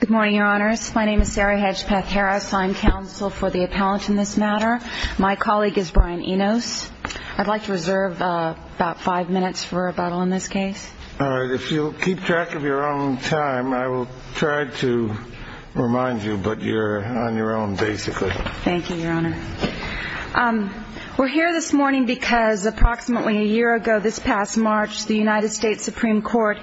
Good morning, Your Honors. My name is Sarah Hedgpeth Harris. I'm counsel for the appellant in this matter. My colleague is Brian Enos. I'd like to reserve about five minutes for rebuttal in this case. All right. If you'll keep track of your own time, I will try to remind you, but you're on your own, basically. Thank you, Your Honor. We're here this morning because approximately a year ago, this past March, the United States Supreme Court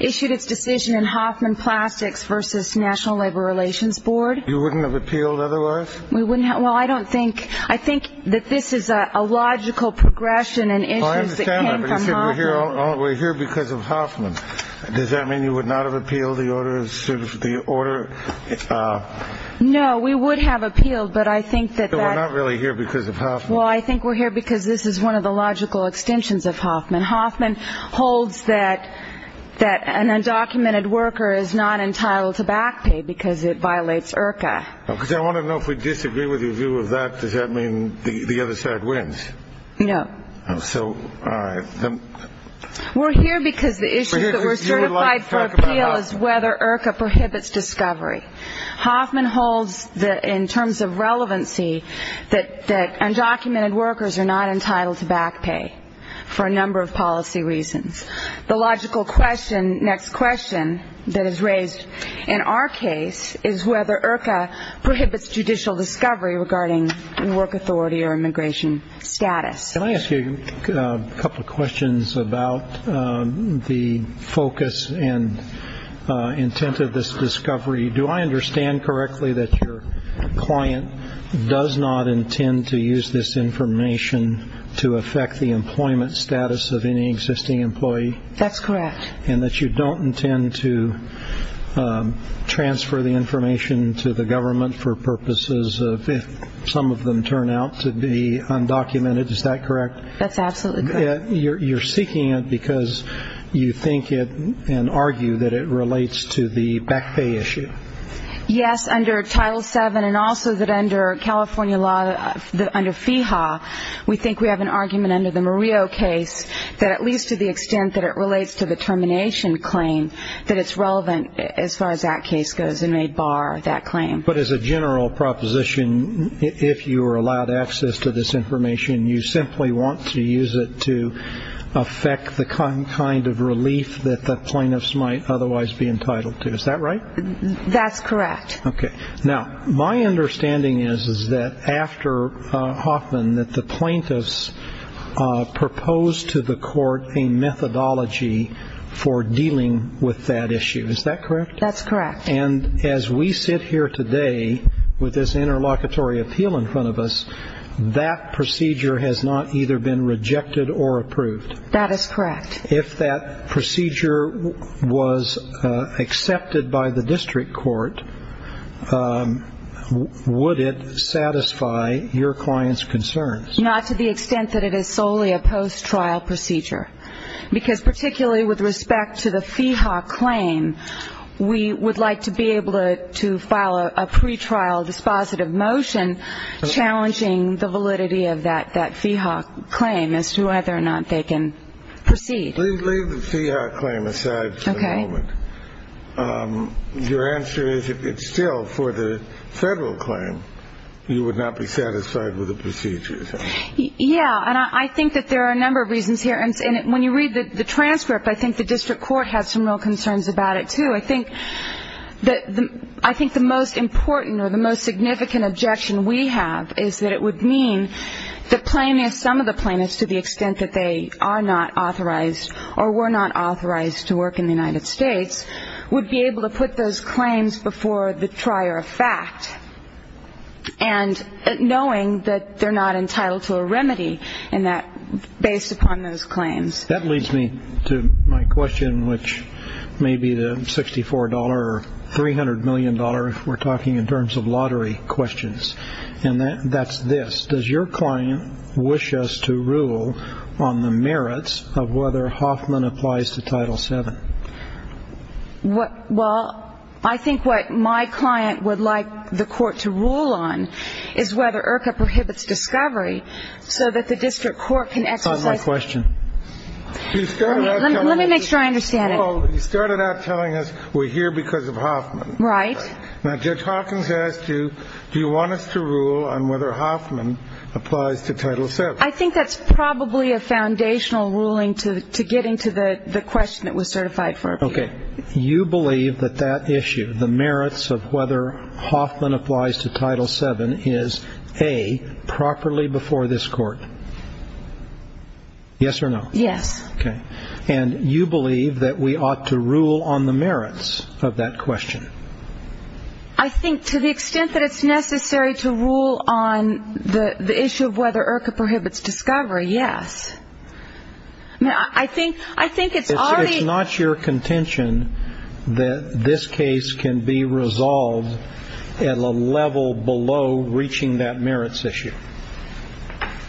issued its decision in Hoffman Plastics v. National Labor Relations Board. You wouldn't have appealed otherwise? Well, I don't think – I think that this is a logical progression in issues that came from Hoffman. I understand that, but you said we're here because of Hoffman. Does that mean you would not have appealed the order? No, we would have appealed, but I think that that – So we're not really here because of Hoffman? Well, I think we're here because this is one of the logical extensions of Hoffman. Hoffman holds that an undocumented worker is not entitled to back pay because it violates IRCA. Because I want to know, if we disagree with your view of that, does that mean the other side wins? No. So, all right. We're here because the issues that were certified for appeal is whether IRCA prohibits discovery. Hoffman holds that, in terms of relevancy, that undocumented workers are not entitled to back pay for a number of policy reasons. The logical question – next question that is raised in our case is whether IRCA prohibits judicial discovery regarding work authority or immigration status. Can I ask you a couple of questions about the focus and intent of this discovery? Do I understand correctly that your client does not intend to use this information to affect the employment status of any existing employee? That's correct. And that you don't intend to transfer the information to the government for purposes of if some of them turn out to be undocumented? Is that correct? That's absolutely correct. You're seeking it because you think it and argue that it relates to the back pay issue? Yes, under Title VII and also that under California law, under FEHA, we think we have an argument under the Murillo case that at least to the extent that it relates to the termination claim, that it's relevant as far as that case goes and may bar that claim. But as a general proposition, if you are allowed access to this information, you simply want to use it to affect the kind of relief that the plaintiffs might otherwise be entitled to. Is that right? That's correct. Okay. Now, my understanding is that after Hoffman, that the plaintiffs proposed to the court a methodology for dealing with that issue. Is that correct? That's correct. And as we sit here today with this interlocutory appeal in front of us, that procedure has not either been rejected or approved? That is correct. If that procedure was accepted by the district court, would it satisfy your client's concerns? Not to the extent that it is solely a post-trial procedure. Because particularly with respect to the FEHA claim, we would like to be able to file a pretrial dispositive motion challenging the validity of that FEHA claim as to whether or not they can proceed. Leave the FEHA claim aside for the moment. Okay. Your answer is if it's still for the federal claim, you would not be satisfied with the procedure. Yeah, and I think that there are a number of reasons here. And when you read the transcript, I think the district court has some real concerns about it, too. I think the most important or the most significant objection we have is that it would mean that plaintiffs, some of the plaintiffs to the extent that they are not authorized or were not authorized to work in the United States, would be able to put those claims before the trier of fact, knowing that they're not entitled to a remedy based upon those claims. That leads me to my question, which may be the $64 or $300 million if we're talking in terms of lottery questions. And that's this. Does your client wish us to rule on the merits of whether Hoffman applies to Title VII? Well, I think what my client would like the court to rule on is whether IRCA prohibits discovery so that the district court can exercise. That's not my question. Let me make sure I understand it. Well, you started out telling us we're here because of Hoffman. Right. Now, Judge Hawkins asked you, do you want us to rule on whether Hoffman applies to Title VII? I think that's probably a foundational ruling to get into the question that was certified for appeal. Okay. You believe that that issue, the merits of whether Hoffman applies to Title VII, is, A, properly before this court? Yes or no? Yes. Okay. And you believe that we ought to rule on the merits of that question? I think to the extent that it's necessary to rule on the issue of whether IRCA prohibits discovery, yes. I think it's already – It's not your contention that this case can be resolved at a level below reaching that merits issue?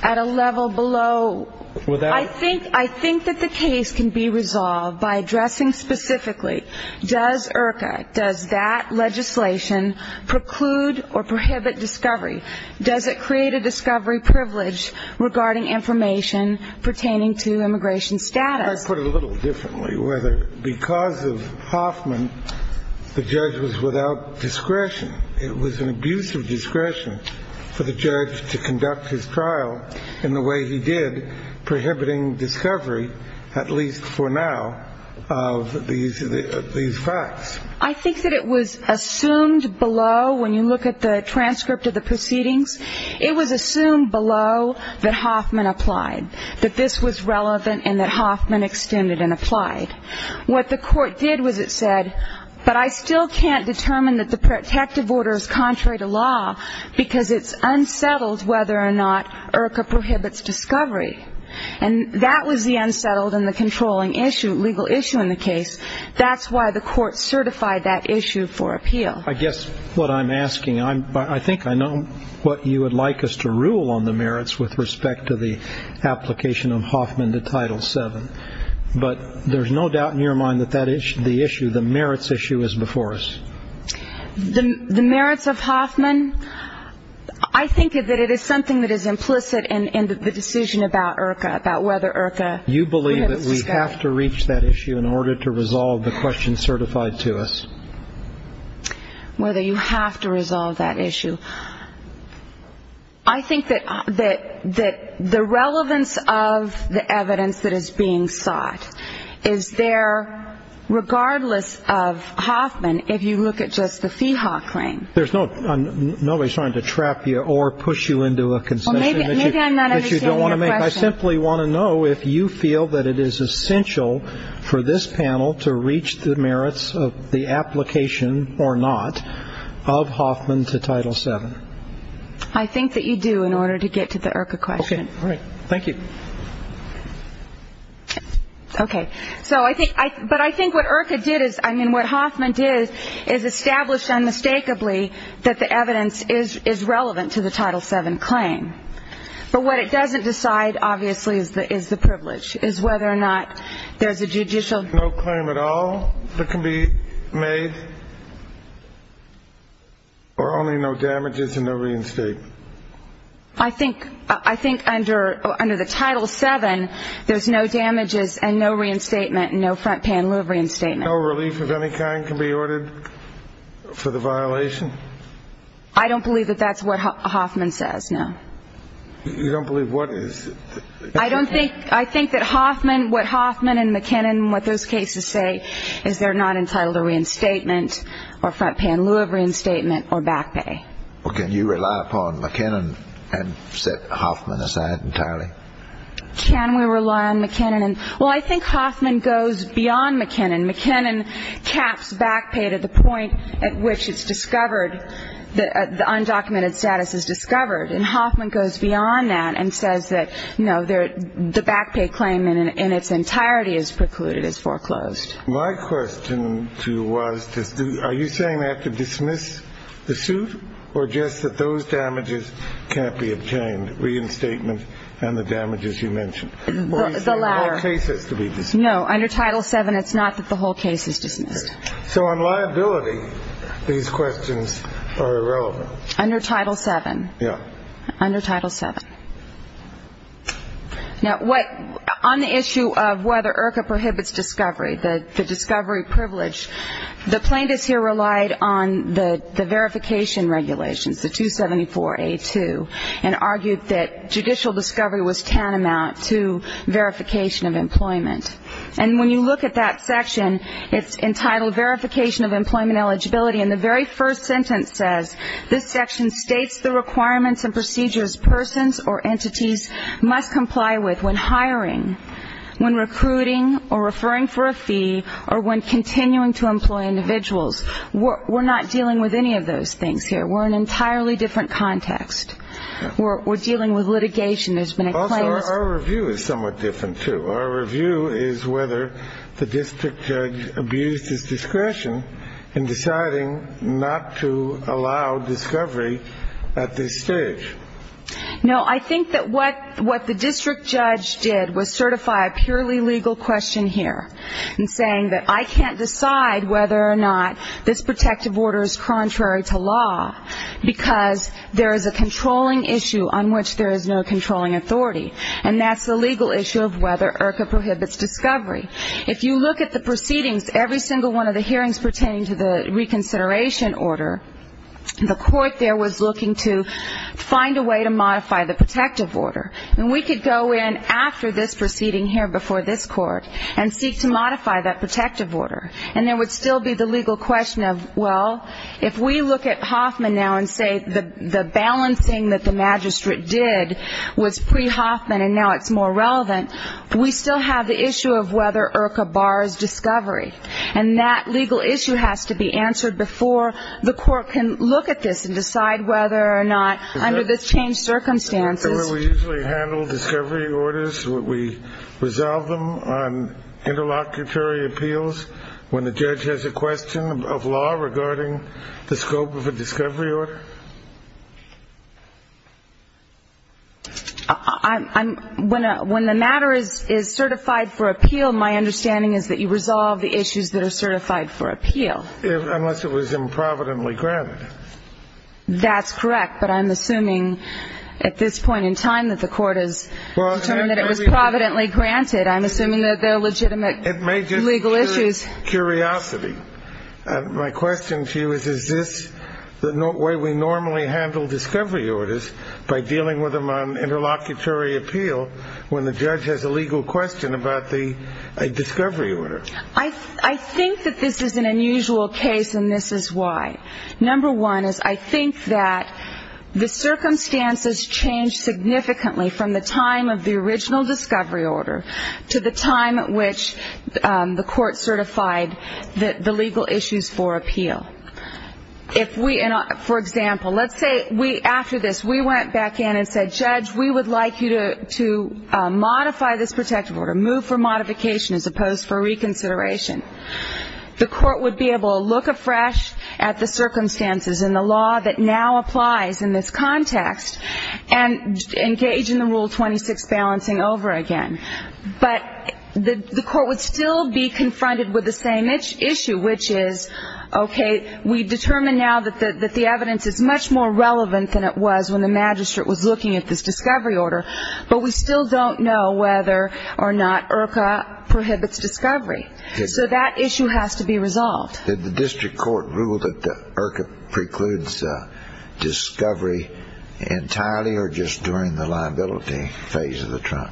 At a level below? I think that the case can be resolved by addressing specifically, does IRCA, does that legislation preclude or prohibit discovery? Does it create a discovery privilege regarding information pertaining to immigration status? Can I put it a little differently? Whether because of Hoffman, the judge was without discretion, it was an abuse of discretion for the judge to conduct his trial in the way he did, prohibiting discovery, at least for now, of these facts. I think that it was assumed below, when you look at the transcript of the proceedings, it was assumed below that Hoffman applied, that this was relevant and that Hoffman extended and applied. What the court did was it said, but I still can't determine that the protective order is contrary to law because it's unsettled whether or not IRCA prohibits discovery. And that was the unsettled and the controlling issue, legal issue in the case. That's why the court certified that issue for appeal. I guess what I'm asking, I think I know what you would like us to rule on the merits with respect to the application of Hoffman to Title VII. But there's no doubt in your mind that the merits issue is before us. The merits of Hoffman, I think that it is something that is implicit in the decision about IRCA, about whether IRCA prohibits discovery. You believe that we have to reach that issue in order to resolve the question certified to us? Whether you have to resolve that issue. I think that the relevance of the evidence that is being sought is there, regardless of Hoffman, if you look at just the Feehaw claim. There's nobody trying to trap you or push you into a concession. Maybe I'm not understanding your question. I simply want to know if you feel that it is essential for this panel to reach the merits of the application or not of Hoffman to Title VII. I think that you do in order to get to the IRCA question. Okay, all right. Thank you. Okay. So I think what IRCA did is, I mean, what Hoffman did is establish unmistakably that the evidence is relevant to the Title VII claim. But what it doesn't decide, obviously, is the privilege, is whether or not there's a judicial There's no claim at all that can be made? Or only no damages and no reinstatement? I think under the Title VII, there's no damages and no reinstatement and no front-panel reinstatement. No relief of any kind can be ordered for the violation? I don't believe that that's what Hoffman says, no. You don't believe what is? I think that Hoffman, what Hoffman and McKinnon, what those cases say, is they're not entitled to reinstatement or front-panel reinstatement or back pay. Well, can you rely upon McKinnon and set Hoffman aside entirely? Can we rely on McKinnon? Well, I think Hoffman goes beyond McKinnon. McKinnon caps back pay to the point at which it's discovered, the undocumented status is discovered. And Hoffman goes beyond that and says that, you know, the back pay claim in its entirety is precluded, is foreclosed. My question to you was, are you saying we have to dismiss the suit? Or just that those damages can't be obtained, reinstatement and the damages you mentioned? The latter. Or is there more cases to be dismissed? No, under Title VII, it's not that the whole case is dismissed. So on liability, these questions are irrelevant? Under Title VII. Yeah. Under Title VII. Now, on the issue of whether IRCA prohibits discovery, the discovery privilege, the plaintiffs here relied on the verification regulations, the 274A2, and argued that judicial discovery was tantamount to verification of employment. And when you look at that section, it's entitled verification of employment eligibility, and the very first sentence says, this section states the requirements and procedures persons or entities must comply with when hiring, when recruiting, or referring for a fee, or when continuing to employ individuals. We're not dealing with any of those things here. We're in an entirely different context. We're dealing with litigation. There's been a claim. Also, our review is somewhat different, too. Our review is whether the district judge abused his discretion in deciding not to allow discovery at this stage. No, I think that what the district judge did was certify a purely legal question here in saying that I can't decide whether or not this protective order is contrary to law because there is a controlling issue on which there is no controlling authority, and that's the legal issue of whether IRCA prohibits discovery. If you look at the proceedings, every single one of the hearings pertaining to the reconsideration order, the court there was looking to find a way to modify the protective order. And we could go in after this proceeding here before this court and seek to modify that protective order, and there would still be the legal question of, well, if we look at Hoffman now and say the balancing that the magistrate did was pre-Hoffman and now it's more relevant, we still have the issue of whether IRCA bars discovery, and that legal issue has to be answered before the court can look at this and decide whether or not under this changed circumstances. Is that where we usually handle discovery orders, where we resolve them on interlocutory appeals when the judge has a question of law regarding the scope of a discovery order? When the matter is certified for appeal, my understanding is that you resolve the issues that are certified for appeal. Unless it was improvidently granted. That's correct. But I'm assuming at this point in time that the court has determined that it was providently granted. That's it. I'm assuming that the legitimate legal issues. It may just be curiosity. My question to you is, is this the way we normally handle discovery orders by dealing with them on interlocutory appeal when the judge has a legal question about the discovery order? I think that this is an unusual case, and this is why. Number one is I think that the circumstances change significantly from the time of the original discovery order to the time at which the court certified the legal issues for appeal. For example, let's say after this we went back in and said, Judge, we would like you to modify this protective order, move for modification as opposed for reconsideration. The court would be able to look afresh at the circumstances and the law that now applies in this context and engage in the Rule 26 balancing over again. But the court would still be confronted with the same issue, which is, okay, we determine now that the evidence is much more relevant than it was when the magistrate was looking at this discovery order, but we still don't know whether or not IRCA prohibits discovery. So that issue has to be resolved. Did the district court rule that IRCA precludes discovery entirely or just during the liability phase of the trial?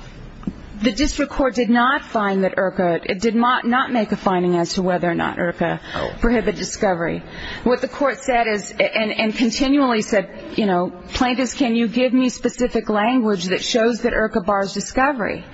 The district court did not make a finding as to whether or not IRCA prohibited discovery. What the court said and continually said, Plaintiffs, can you give me specific language that shows that IRCA bars discovery?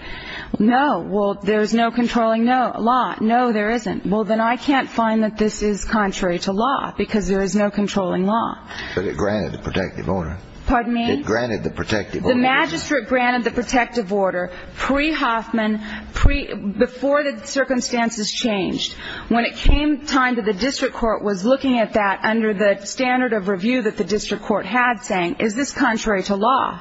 No. Well, there is no controlling law. No, there isn't. Well, then I can't find that this is contrary to law because there is no controlling law. But it granted the protective order. Pardon me? It granted the protective order. The magistrate granted the protective order pre-Hoffman, pre-before the circumstances changed. When it came time that the district court was looking at that under the standard of review that the district court had saying, is this contrary to law?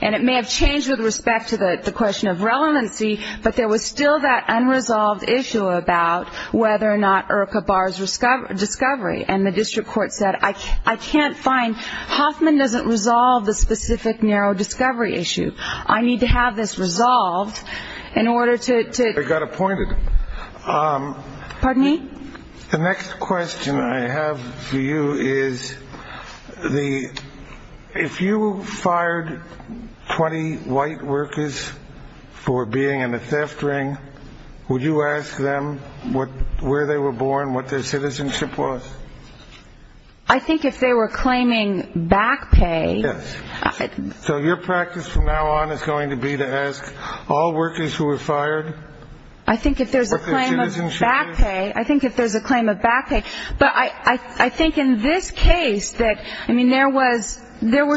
And it may have changed with respect to the question of relevancy, but there was still that unresolved issue about whether or not IRCA bars discovery. And the district court said, I can't find, Hoffman doesn't resolve the specific narrow discovery issue. I need to have this resolved in order to I got appointed. Pardon me? The next question I have for you is, if you fired 20 white workers for being in a theft ring, would you ask them where they were born, what their citizenship was? I think if they were claiming back pay. So your practice from now on is going to be to ask all workers who were fired I think if there's a claim of back pay, I think if there's a claim of back pay. But I think in this case that, I mean, there was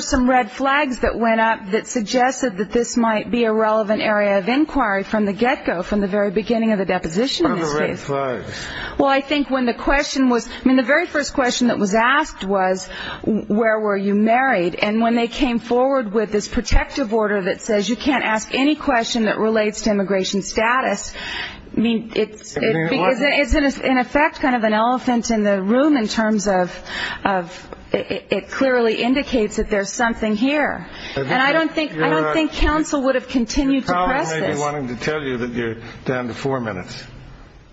some red flags that went up that suggested that this might be a relevant area of inquiry from the get-go, from the very beginning of the deposition in this case. What are the red flags? Well, I think when the question was, I mean, the very first question that was asked was, where were you married? And when they came forward with this protective order that says you can't ask any question that relates to immigration status, I mean, it's in effect kind of an elephant in the room in terms of it clearly indicates that there's something here. And I don't think counsel would have continued to press this. The problem may be wanting to tell you that you're down to four minutes.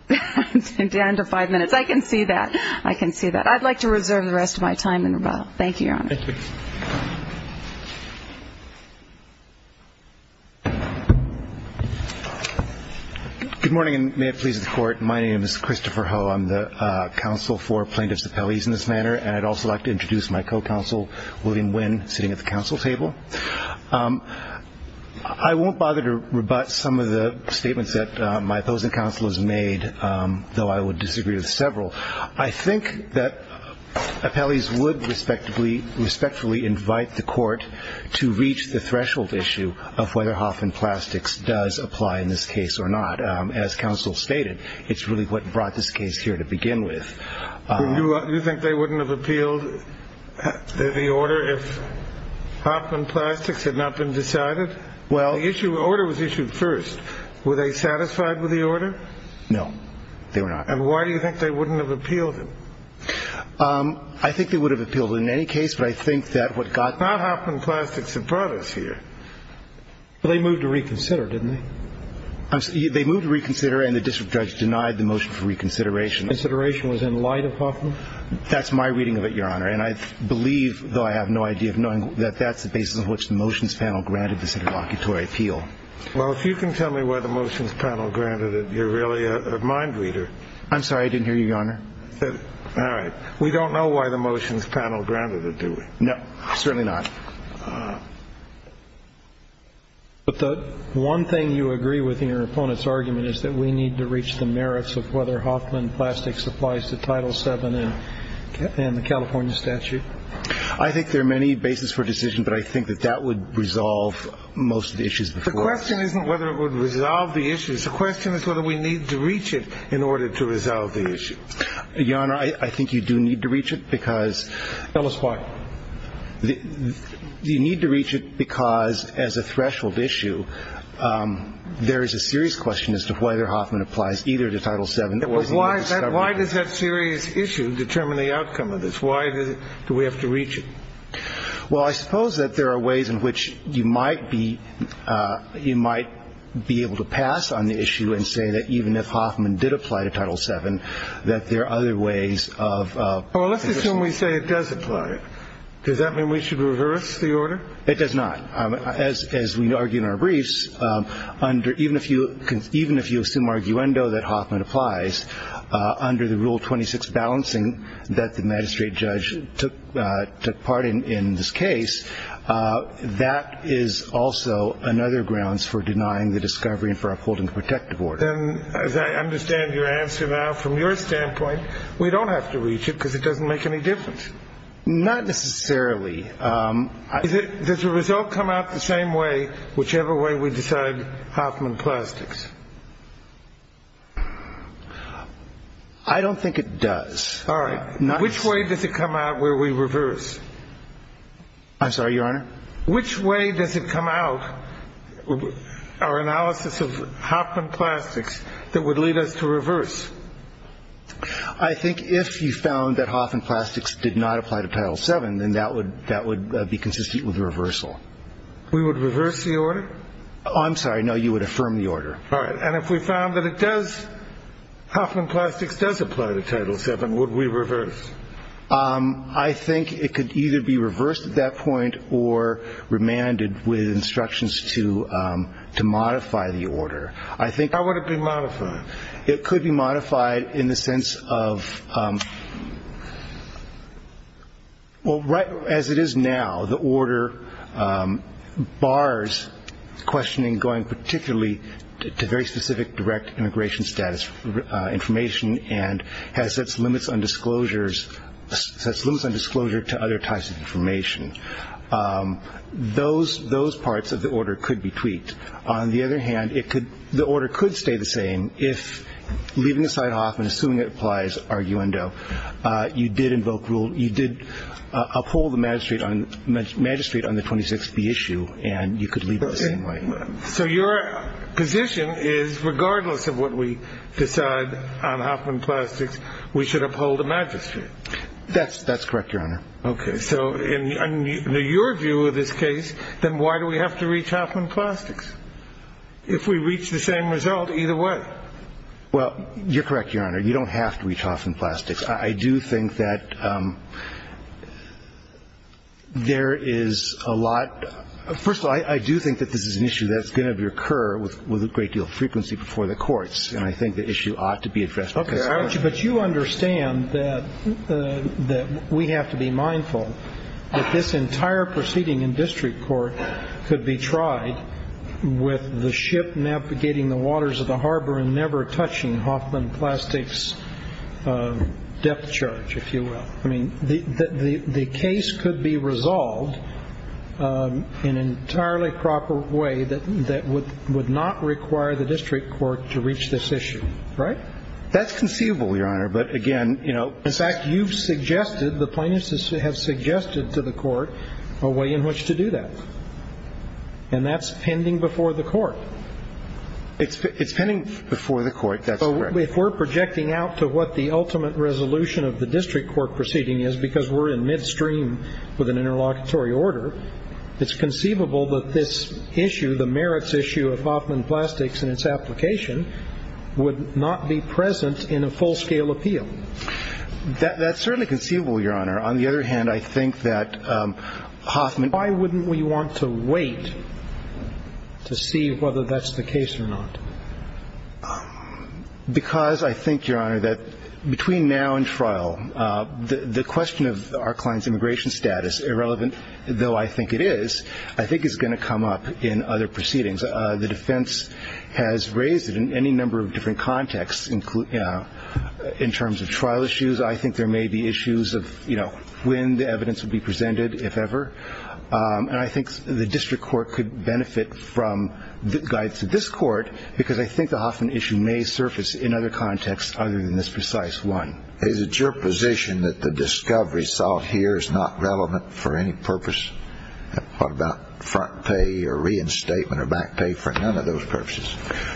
Down to five minutes. I can see that. I can see that. I'd like to reserve the rest of my time and rebuttal. Thank you, Your Honor. Thank you. Good morning, and may it please the Court. My name is Christopher Ho. I'm the counsel for plaintiffs' appellees in this manner, and I'd also like to introduce my co-counsel, William Nguyen, sitting at the counsel table. I won't bother to rebut some of the statements that my opposing counsel has made, though I would disagree with several. I think that appellees would respectfully invite the Court to reach the threshold issue of whether Hoffman Plastics does apply in this case or not. But as counsel stated, it's really what brought this case here to begin with. Do you think they wouldn't have appealed the order if Hoffman Plastics had not been decided? Well, the order was issued first. Were they satisfied with the order? No, they were not. And why do you think they wouldn't have appealed it? I think they would have appealed it in any case, but I think that what got them here. Not Hoffman Plastics had brought us here. But they moved to reconsider, didn't they? They moved to reconsider, and the district judge denied the motion for reconsideration. Consideration was in light of Hoffman? That's my reading of it, Your Honor. And I believe, though I have no idea of knowing, that that's the basis on which the motions panel granted this interlocutory appeal. Well, if you can tell me why the motions panel granted it, you're really a mind reader. I'm sorry. I didn't hear you, Your Honor. All right. We don't know why the motions panel granted it, do we? No, certainly not. But the one thing you agree with in your opponent's argument is that we need to reach the merits of whether Hoffman Plastics applies to Title VII and the California statute. I think there are many bases for decision, but I think that that would resolve most of the issues before us. The question isn't whether it would resolve the issues. The question is whether we need to reach it in order to resolve the issue. Your Honor, I think you do need to reach it, because — Tell us why. You need to reach it because, as a threshold issue, there is a serious question as to whether Hoffman applies either to Title VII. Why does that serious issue determine the outcome of this? Why do we have to reach it? Well, I suppose that there are ways in which you might be able to pass on the issue and say that even if Hoffman did apply to Title VII, that there are other ways of — Does that mean we should reverse the order? It does not. As we argue in our briefs, even if you assume arguendo that Hoffman applies, under the Rule 26 balancing that the magistrate judge took part in in this case, that is also another grounds for denying the discovery and for upholding the protective order. Then, as I understand your answer now, from your standpoint, we don't have to reach it because it doesn't make any difference. Not necessarily. Does the result come out the same way whichever way we decide Hoffman Plastics? I don't think it does. All right. Which way does it come out where we reverse? I'm sorry, Your Honor? Which way does it come out, our analysis of Hoffman Plastics, that would lead us to reverse? I think if you found that Hoffman Plastics did not apply to Title VII, then that would be consistent with reversal. We would reverse the order? I'm sorry. No, you would affirm the order. All right. And if we found that it does — Hoffman Plastics does apply to Title VII, would we reverse? I think it could either be reversed at that point or remanded with instructions to modify the order. I think — How would it be modified? It could be modified in the sense of — well, right as it is now, the order bars questioning going particularly to very specific direct immigration status information and has its limits on disclosure to other types of information. Those parts of the order could be tweaked. On the other hand, the order could stay the same if, leaving aside Hoffman, assuming it applies, arguendo, you did uphold the magistrate on the 26B issue and you could leave it the same way. So your position is, regardless of what we decide on Hoffman Plastics, we should uphold the magistrate? That's correct, Your Honor. Okay. So in your view of this case, then why do we have to reach Hoffman Plastics? If we reach the same result, either way. Well, you're correct, Your Honor. You don't have to reach Hoffman Plastics. I do think that there is a lot — first of all, I do think that this is an issue that's going to occur with a great deal of frequency before the courts. And I think the issue ought to be addressed. Okay. But you understand that we have to be mindful that this entire proceeding in district court could be tried with the ship navigating the waters of the harbor and never touching Hoffman Plastics depth charge, if you will. I mean, the case could be resolved in an entirely proper way that would not require the district court to reach this issue, right? That's conceivable, Your Honor. But, again, you know — In fact, you've suggested, the plaintiffs have suggested to the court a way in which to do that. And that's pending before the court. It's pending before the court. That's correct. If we're projecting out to what the ultimate resolution of the district court proceeding is, because we're in midstream with an interlocutory order, it's conceivable that this issue, the merits issue of Hoffman Plastics and its application, would not be present in a full-scale appeal. That's certainly conceivable, Your Honor. On the other hand, I think that Hoffman — Why wouldn't we want to wait to see whether that's the case or not? Because I think, Your Honor, that between now and trial, the question of our client's immigration status, though I think it is, I think is going to come up in other proceedings. The defense has raised it in any number of different contexts, in terms of trial issues. I think there may be issues of, you know, when the evidence will be presented, if ever. And I think the district court could benefit from the guide to this court, because I think the Hoffman issue may surface in other contexts other than this precise one. Is it your position that the discovery sought here is not relevant for any purpose? What about front pay or reinstatement or back pay for none of those purposes?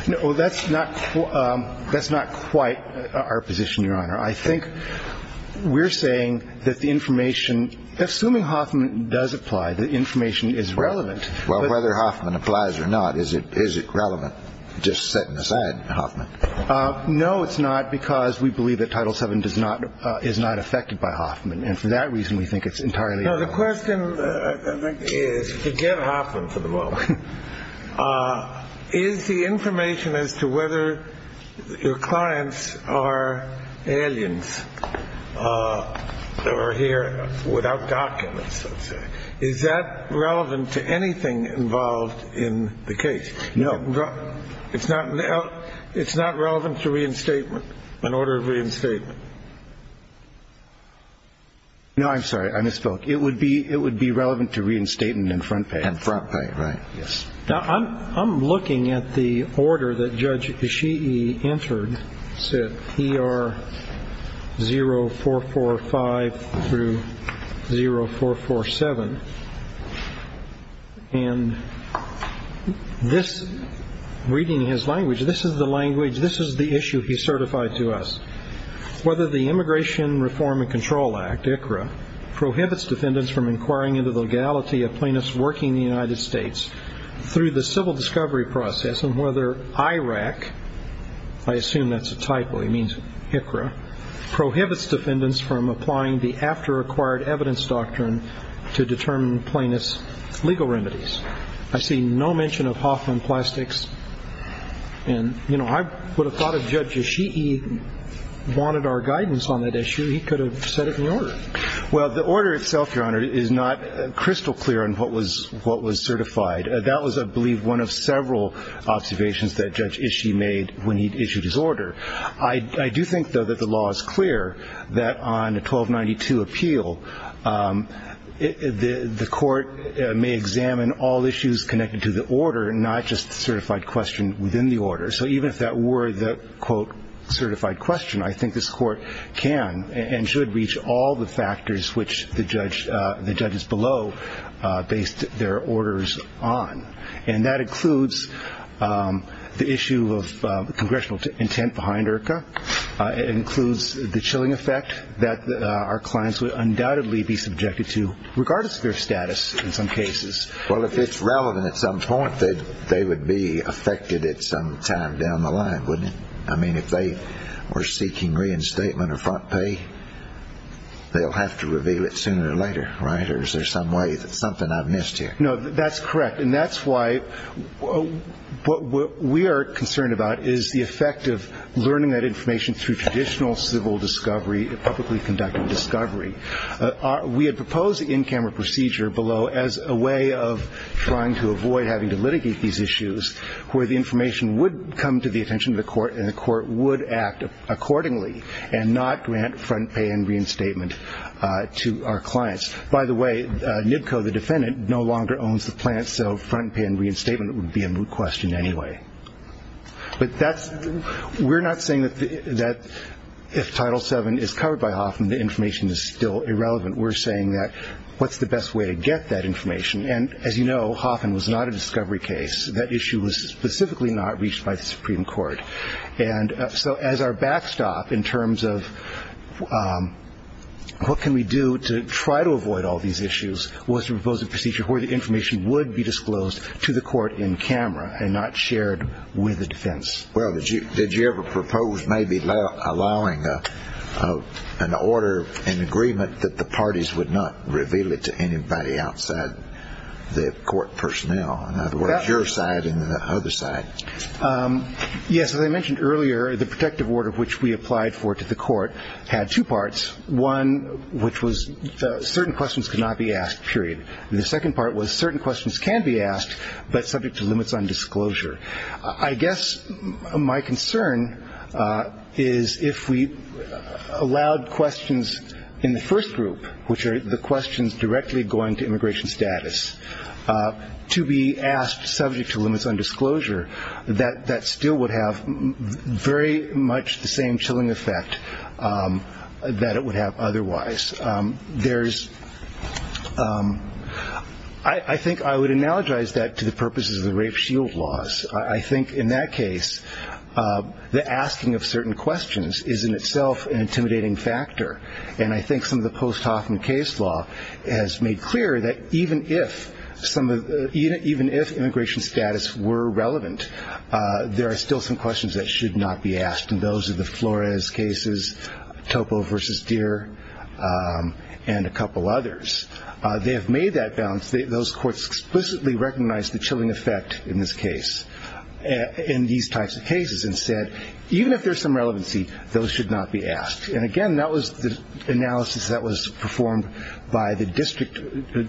No, that's not quite our position, Your Honor. I think we're saying that the information — assuming Hoffman does apply, the information is relevant. Well, whether Hoffman applies or not, is it relevant, just setting aside Hoffman? No, it's not, because we believe that Title VII is not affected by Hoffman. And for that reason, we think it's entirely — No, the question, I think, is — forget Hoffman for the moment. Is the information as to whether your clients are aliens or here without documents, let's say, is that relevant to anything involved in the case? No. It's not relevant to reinstatement, an order of reinstatement. No, I'm sorry. I misspoke. It would be relevant to reinstatement and front pay. And front pay, right. Yes. Now, I'm looking at the order that Judge Ishii entered, PR 0445 through 0447. And this — reading his language, this is the language, this is the issue he certified to us. Whether the Immigration Reform and Control Act, ICRA, prohibits defendants from inquiring into the legality of plaintiffs working in the United States through the civil discovery process, and whether IRAC — I assume that's a typo, he means ICRA — prohibits defendants from applying the after-acquired evidence doctrine to determine plaintiffs' legal remedies. I see no mention of Hoffman plastics. And, you know, I would have thought if Judge Ishii wanted our guidance on that issue, he could have said it in the order. Well, the order itself, Your Honor, is not crystal clear on what was certified. That was, I believe, one of several observations that Judge Ishii made when he issued his order. I do think, though, that the law is clear that on a 1292 appeal, the court may examine all issues connected to the order, not just the certified question within the order. So even if that were the, quote, certified question, I think this court can and should reach all the factors which the judges below based their orders on. And that includes the issue of congressional intent behind IRCA. It includes the chilling effect that our clients would undoubtedly be subjected to, regardless of their status in some cases. Well, if it's relevant at some point, they would be affected at some time down the line, wouldn't it? I mean, if they were seeking reinstatement or front pay, they'll have to reveal it sooner or later, right? Or is there some way that's something I've missed here? No, that's correct. And that's why what we are concerned about is the effect of learning that information through traditional civil discovery, publicly conducted discovery. We had proposed the in-camera procedure below as a way of trying to avoid having to litigate these issues, where the information would come to the attention of the court and the court would act accordingly and not grant front pay and reinstatement to our clients. By the way, NBCO, the defendant, no longer owns the plant, so front pay and reinstatement would be a moot question anyway. But we're not saying that if Title VII is covered by Hoffman, the information is still irrelevant. We're saying that what's the best way to get that information? And as you know, Hoffman was not a discovery case. That issue was specifically not reached by the Supreme Court. And so as our backstop in terms of what can we do to try to avoid all these issues was to propose a procedure where the information would be disclosed to the court in camera and not shared with the defense. Well, did you ever propose maybe allowing an order, an agreement, that the parties would not reveal it to anybody outside the court personnel? In other words, your side and the other side. Yes, as I mentioned earlier, the protective order which we applied for to the court had two parts. One, which was certain questions could not be asked, period. And the second part was certain questions can be asked but subject to limits on disclosure. I guess my concern is if we allowed questions in the first group, which are the questions directly going to immigration status, to be asked subject to limits on disclosure, that that still would have very much the same chilling effect that it would have otherwise. I think I would analogize that to the purposes of the rape shield laws. I think in that case the asking of certain questions is in itself an intimidating factor. And I think some of the post-Hoffman case law has made clear that even if immigration status were relevant, there are still some questions that should not be asked. And those are the Flores cases, Topo v. Deere, and a couple others. They have made that balance. Those courts explicitly recognized the chilling effect in this case, in these types of cases, and said even if there's some relevancy, those should not be asked. And, again, that was the analysis that was performed by the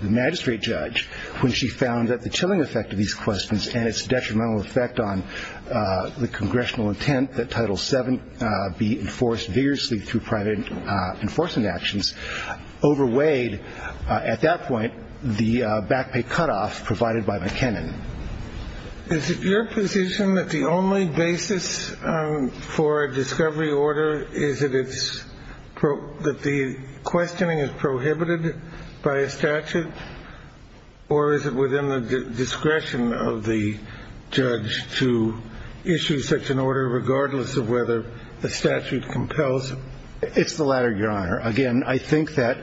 magistrate judge when she found that the chilling effect of these questions and its detrimental effect on the congressional intent that Title VII be enforced vigorously through private enforcement actions overweighed, at that point, the back pay cutoff provided by McKinnon. Is it your position that the only basis for a discovery order is that the questioning is prohibited by a statute? Or is it within the discretion of the judge to issue such an order regardless of whether the statute compels it? Again, I think that,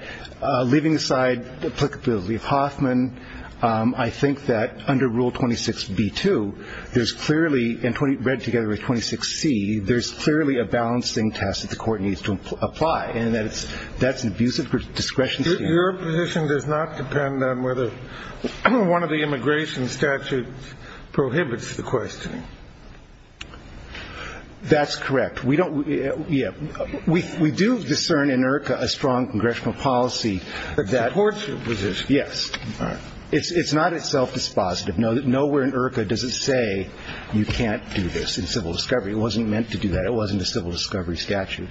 leaving aside the applicability of Hoffman, I think that under Rule 26b-2, there's clearly, and read together with 26c, there's clearly a balancing test that the court needs to apply, and that's an abusive discretion to use. Your position does not depend on whether one of the immigration statutes prohibits the questioning? That's correct. We do discern in IRCA a strong congressional policy that courts resist. Yes. All right. It's not a self-dispositive. Nowhere in IRCA does it say you can't do this in civil discovery. It wasn't meant to do that. It wasn't a civil discovery statute.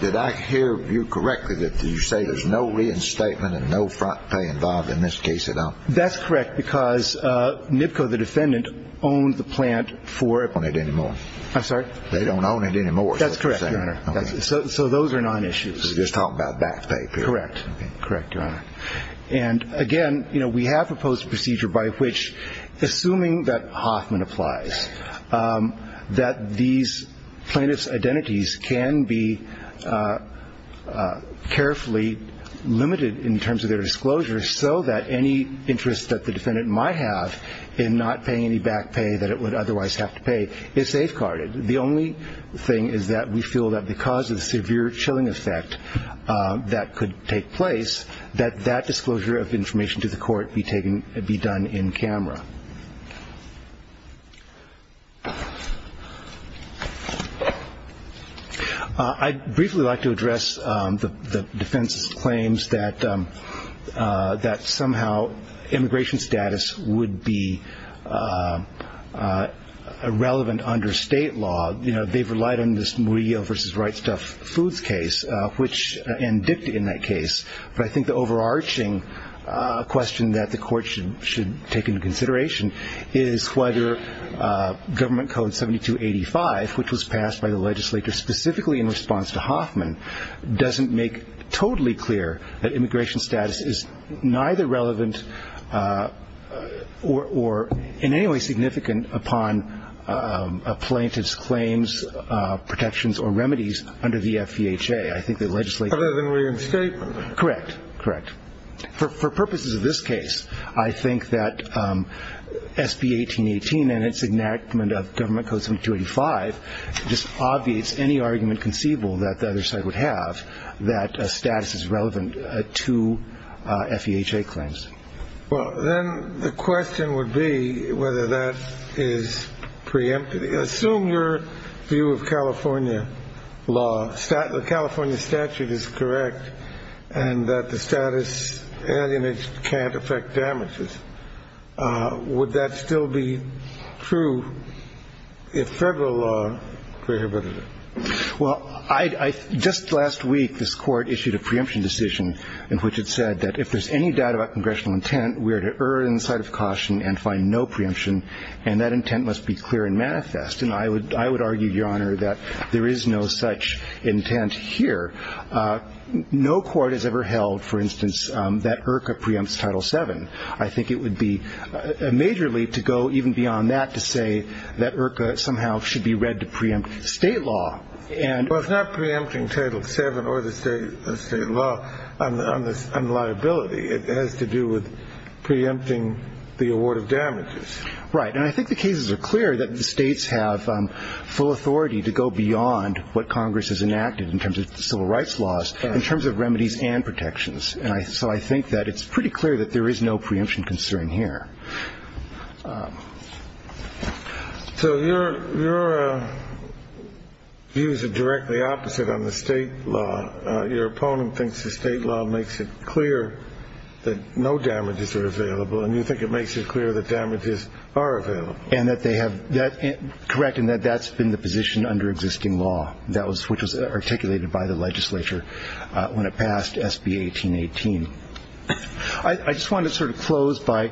Did I hear you correctly that you say there's no reinstatement and no front pay involved in this case at all? That's correct, because NIPCO, the defendant, owned the plant for ---- They don't own it anymore. I'm sorry? They don't own it anymore. That's correct, Your Honor. Okay. So those are non-issues. You're just talking about back pay. Correct. Okay. Correct, Your Honor. And, again, you know, we have proposed a procedure by which, assuming that Hoffman applies, that these plaintiff's identities can be carefully limited in terms of their disclosure so that any interest that the defendant might have in not paying any back pay that it would otherwise have to pay is safeguarded. The only thing is that we feel that because of the severe chilling effect that could take place, that that disclosure of information to the court be done in camera. I'd briefly like to address the defense's claims that somehow immigration status would be irrelevant under state law. You know, they've relied on this Murillo v. Wrightstuff Foods case and DICT in that case, but I think the overarching question that the court should take into consideration is whether government code 7285, which was passed by the legislature specifically in response to Hoffman, doesn't make totally clear that immigration status is neither relevant or in any way significant upon a plaintiff's claims, protections, or remedies under the FEHA. Other than reinstatement? Correct. Correct. For purposes of this case, I think that SB 1818 and its enactment of government code 7285 just obviates any argument conceivable that the other side would have that status is relevant to FEHA claims. Well, then the question would be whether that is preemptive. Assume your view of California law, the California statute is correct and that the status alienage can't affect damages. Would that still be true if federal law prohibited it? Well, just last week, this court issued a preemption decision in which it said that if there's any doubt about congressional intent, we are to err on the side of caution and find no preemption, and that intent must be clear and manifest. And I would argue, Your Honor, that there is no such intent here. No court has ever held, for instance, that IRCA preempts Title VII. I think it would be a major leap to go even beyond that to say that IRCA somehow should be read to preempt state law. Well, it's not preempting Title VII or the state law on liability. It has to do with preempting the award of damages. Right. And I think the cases are clear that the states have full authority to go beyond what Congress has enacted in terms of civil rights laws, in terms of remedies and protections. And so I think that it's pretty clear that there is no preemption concern here. So your views are directly opposite on the state law. Your opponent thinks the state law makes it clear that no damages are available, and you think it makes it clear that damages are available. Correct, and that that's been the position under existing law, which was articulated by the legislature when it passed SB 1818. I just wanted to sort of close by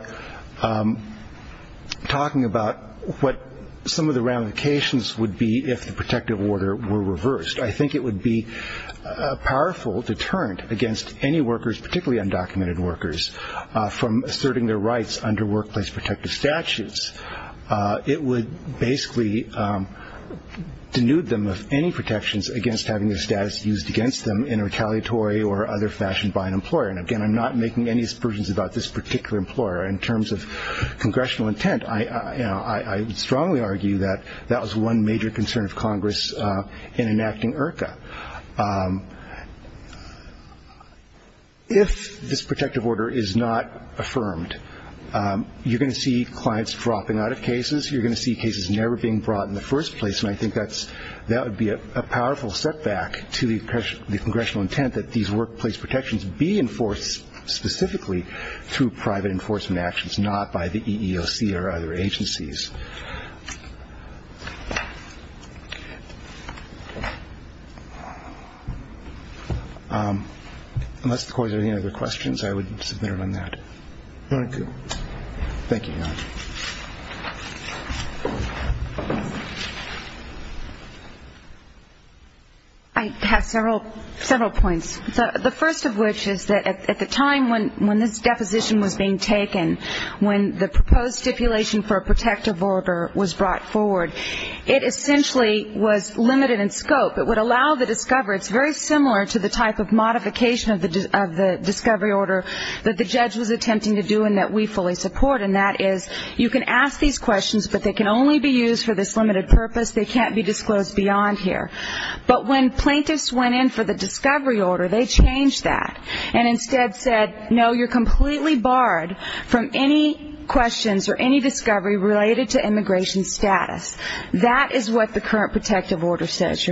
talking about what some of the ramifications would be if the protective order were reversed. I think it would be a powerful deterrent against any workers, particularly undocumented workers, from asserting their rights under workplace protective statutes. It would basically denude them of any protections against having their status used against them in a retaliatory or other fashion by an employer. And again, I'm not making any assertions about this particular employer. In terms of congressional intent, I would strongly argue that that was one major concern of Congress in enacting IRCA. If this protective order is not affirmed, you're going to see clients dropping out of cases. You're going to see cases never being brought in the first place, and I think that would be a powerful setback to the congressional intent that these workplace protections be enforced specifically through private enforcement actions, not by the EEOC or other agencies. Unless the court has any other questions, I would submit it on that. Thank you. I have several points. The first of which is that at the time when this deposition was being taken, when the proposed stipulation for a protective order was brought forward, it essentially was limited in scope. It would allow the discoverer, it's very similar to the type of modification of the discovery order that the judge was attempting to do and that we fully support, and that is you can ask these questions, but they can only be used for this limited purpose. They can't be disclosed beyond here. But when plaintiffs went in for the discovery order, they changed that and instead said, no, you're completely barred from any questions or any discovery related to immigration status.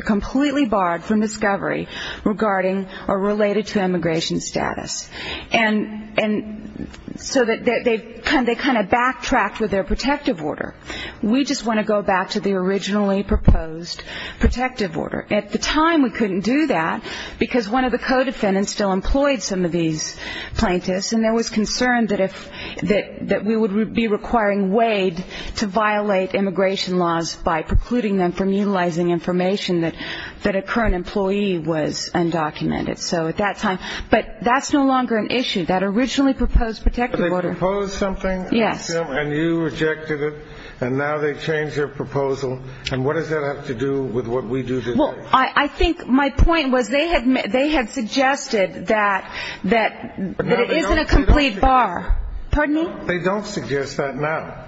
Completely barred from discovery regarding or related to immigration status. And so they kind of backtracked with their protective order. We just want to go back to the originally proposed protective order. At the time we couldn't do that, because one of the co-defendants still employed some of these plaintiffs and there was concern that we would be requiring Wade to violate immigration laws by precluding them from utilizing information that a current employee was undocumented. So at that time, but that's no longer an issue. That originally proposed protective order. They proposed something and you rejected it and now they changed their proposal. And what does that have to do with what we do today? I think my point was they had suggested that it isn't a complete bar. Pardon me? They don't suggest that now.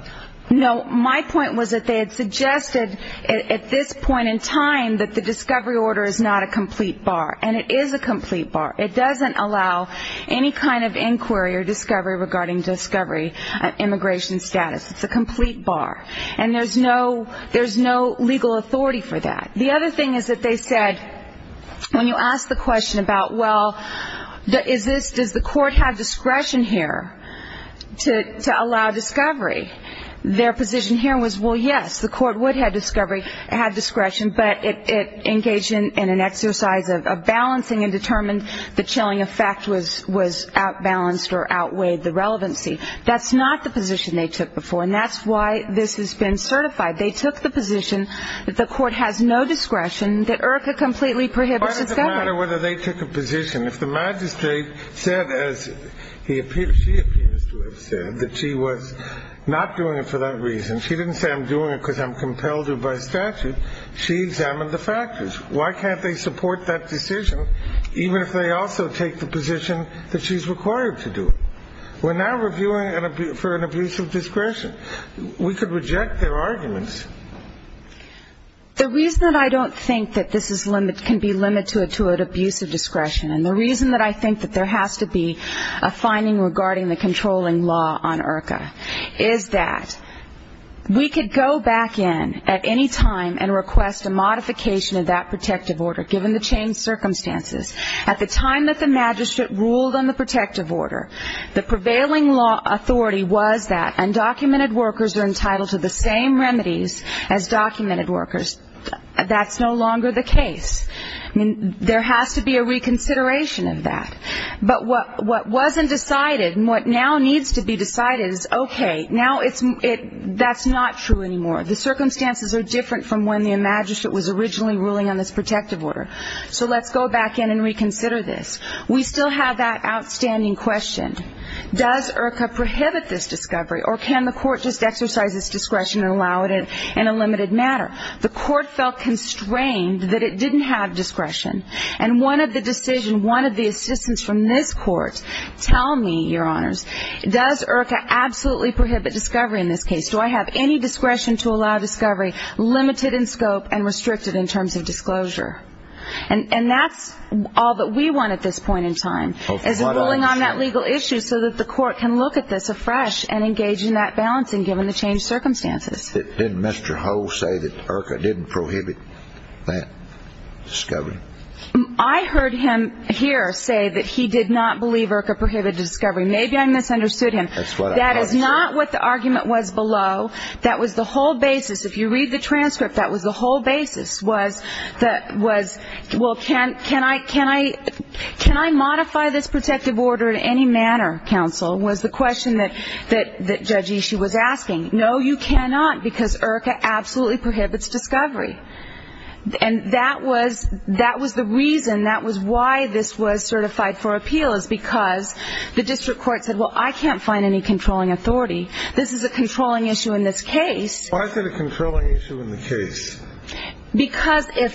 No, my point was that they had suggested at this point in time that the discovery order is not a complete bar. And it is a complete bar. It doesn't allow any kind of inquiry or discovery regarding discovery and immigration status. It's a complete bar. And there's no legal authority for that. The other thing is that they said when you ask the question about, well, does the court have discretion here to allow discovery, their position here was, well, yes, the court would have discretion, but it engaged in an exercise of balancing and determined the chilling effect was outbalanced or outweighed the relevancy. That's not the position they took before, and that's why this has been certified. They took the position that the court has no discretion, that IRCA completely prohibits discovery. Why does it matter whether they took a position? If the magistrate said, as she appears to have said, that she was not doing it for that reason, she didn't say I'm doing it because I'm compelled to by statute, she examined the factors. Why can't they support that decision even if they also take the position that she's required to do it? We're now reviewing for an abuse of discretion. We could reject their arguments. The reason that I don't think that this can be limited to an abuse of discretion, and the reason that I think that there has to be a finding regarding the controlling law on IRCA, is that we could go back in at any time and request a modification of that protective order, given the changed circumstances. At the time that the magistrate ruled on the protective order, the prevailing law authority was that undocumented workers are entitled to the same remedies as documented workers. That's no longer the case. I mean, there has to be a reconsideration of that. But what wasn't decided and what now needs to be decided is, okay, now that's not true anymore. The circumstances are different from when the magistrate was originally ruling on this protective order. So let's go back in and reconsider this. We still have that outstanding question. Does IRCA prohibit this discovery, or can the court just exercise its discretion and allow it in a limited manner? The court felt constrained that it didn't have discretion. And one of the decisions, one of the assistance from this court, tell me, Your Honors, does IRCA absolutely prohibit discovery in this case? Do I have any discretion to allow discovery limited in scope and restricted in terms of disclosure? And that's all that we want at this point in time, is ruling on that legal issue so that the court can look at this afresh and engage in that balancing, given the changed circumstances. Didn't Mr. Ho say that IRCA didn't prohibit that discovery? I heard him here say that he did not believe IRCA prohibited discovery. Maybe I misunderstood him. That is not what the argument was below. That was the whole basis. If you read the transcript, that was the whole basis was, well, can I modify this protective order in any manner, counsel, was the question that Judge Ishii was asking. No, you cannot, because IRCA absolutely prohibits discovery. And that was the reason, that was why this was certified for appeal, is because the district court said, well, I can't find any controlling authority. This is a controlling issue in this case. Because if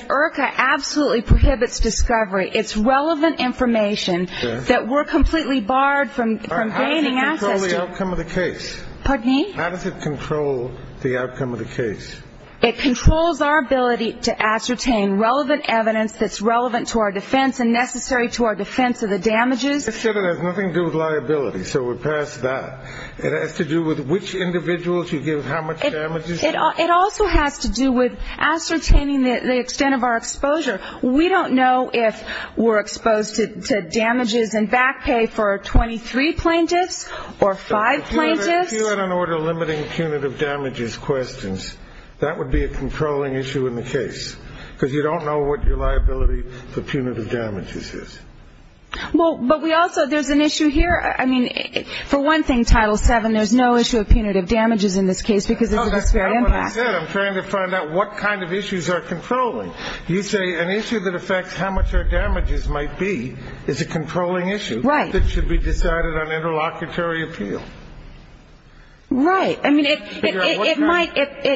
IRCA absolutely prohibits discovery, it's relevant information that we're completely barred from gaining access to. How does it control the outcome of the case? It controls our ability to ascertain relevant evidence that's relevant to our defense and necessary to our defense of the damages. I said it has nothing to do with liability, so we're past that. It has to do with which individuals you give how much damages. It also has to do with ascertaining the extent of our exposure. We don't know if we're exposed to damages and back pay for 23 plaintiffs or five plaintiffs. If you had an order limiting punitive damages questions, that would be a controlling issue in the case, because you don't know what your liability for punitive damages is. Well, but we also, there's an issue here, I mean, for one thing, Title VII, there's no issue of punitive damages in this case because it's a disparate impact. That's not what I said. I'm trying to find out what kind of issues are controlling. You say an issue that affects how much our damages might be is a controlling issue. Right. That should be decided on interlocutory appeal. Right.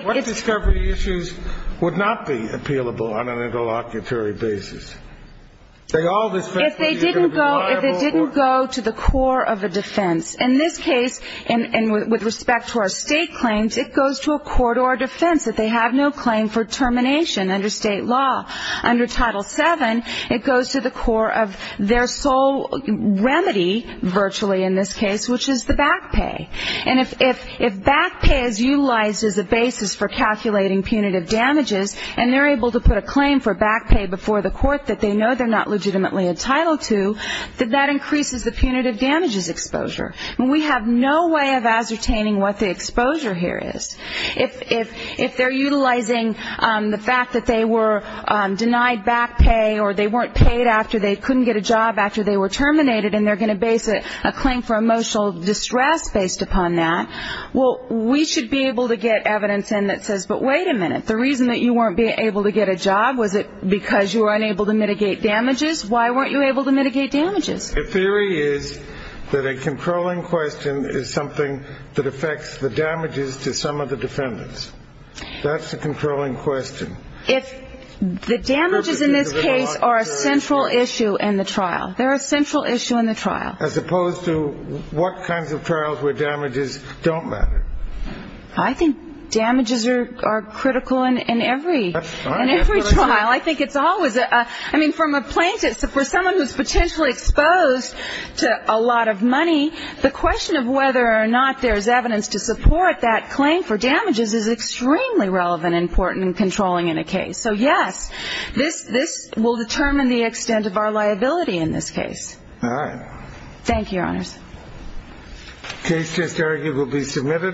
What discovery issues would not be appealable on an interlocutory basis? If they didn't go to the core of a defense. In this case, and with respect to our state claims, it goes to a court or a defense. If they have no claim for termination under state law, under Title VII, it goes to the core of their sole remedy virtually in this case, which is the back pay. And if back pay is utilized as a basis for calculating punitive damages and they're able to put a claim for back pay before the court that they know they're not legitimately entitled to, then that increases the punitive damages exposure. I mean, we have no way of ascertaining what the exposure here is. If they're utilizing the fact that they were denied back pay or they weren't paid after they couldn't get a job after they were terminated and they're going to base a claim for emotional distress based upon that, well, we should be able to get evidence in that says, but wait a minute, the reason that you weren't able to get a job, was it because you were unable to mitigate damages? Why weren't you able to mitigate damages? The theory is that a controlling question is something that affects the damages to some of the defendants. That's the controlling question. If the damages in this case are a central issue in the trial, they're a central issue in the trial. As opposed to what kinds of trials where damages don't matter. I think damages are critical in every trial. I think it's always a, I mean, from a plaintiff, for someone who's potentially exposed to a lot of money, the question of whether or not there's evidence to support that claim for damages is extremely relevant and important in controlling in a case. So, yes, this will determine the extent of our liability in this case. All right. Thank you, Your Honors. The case is arguably submitted.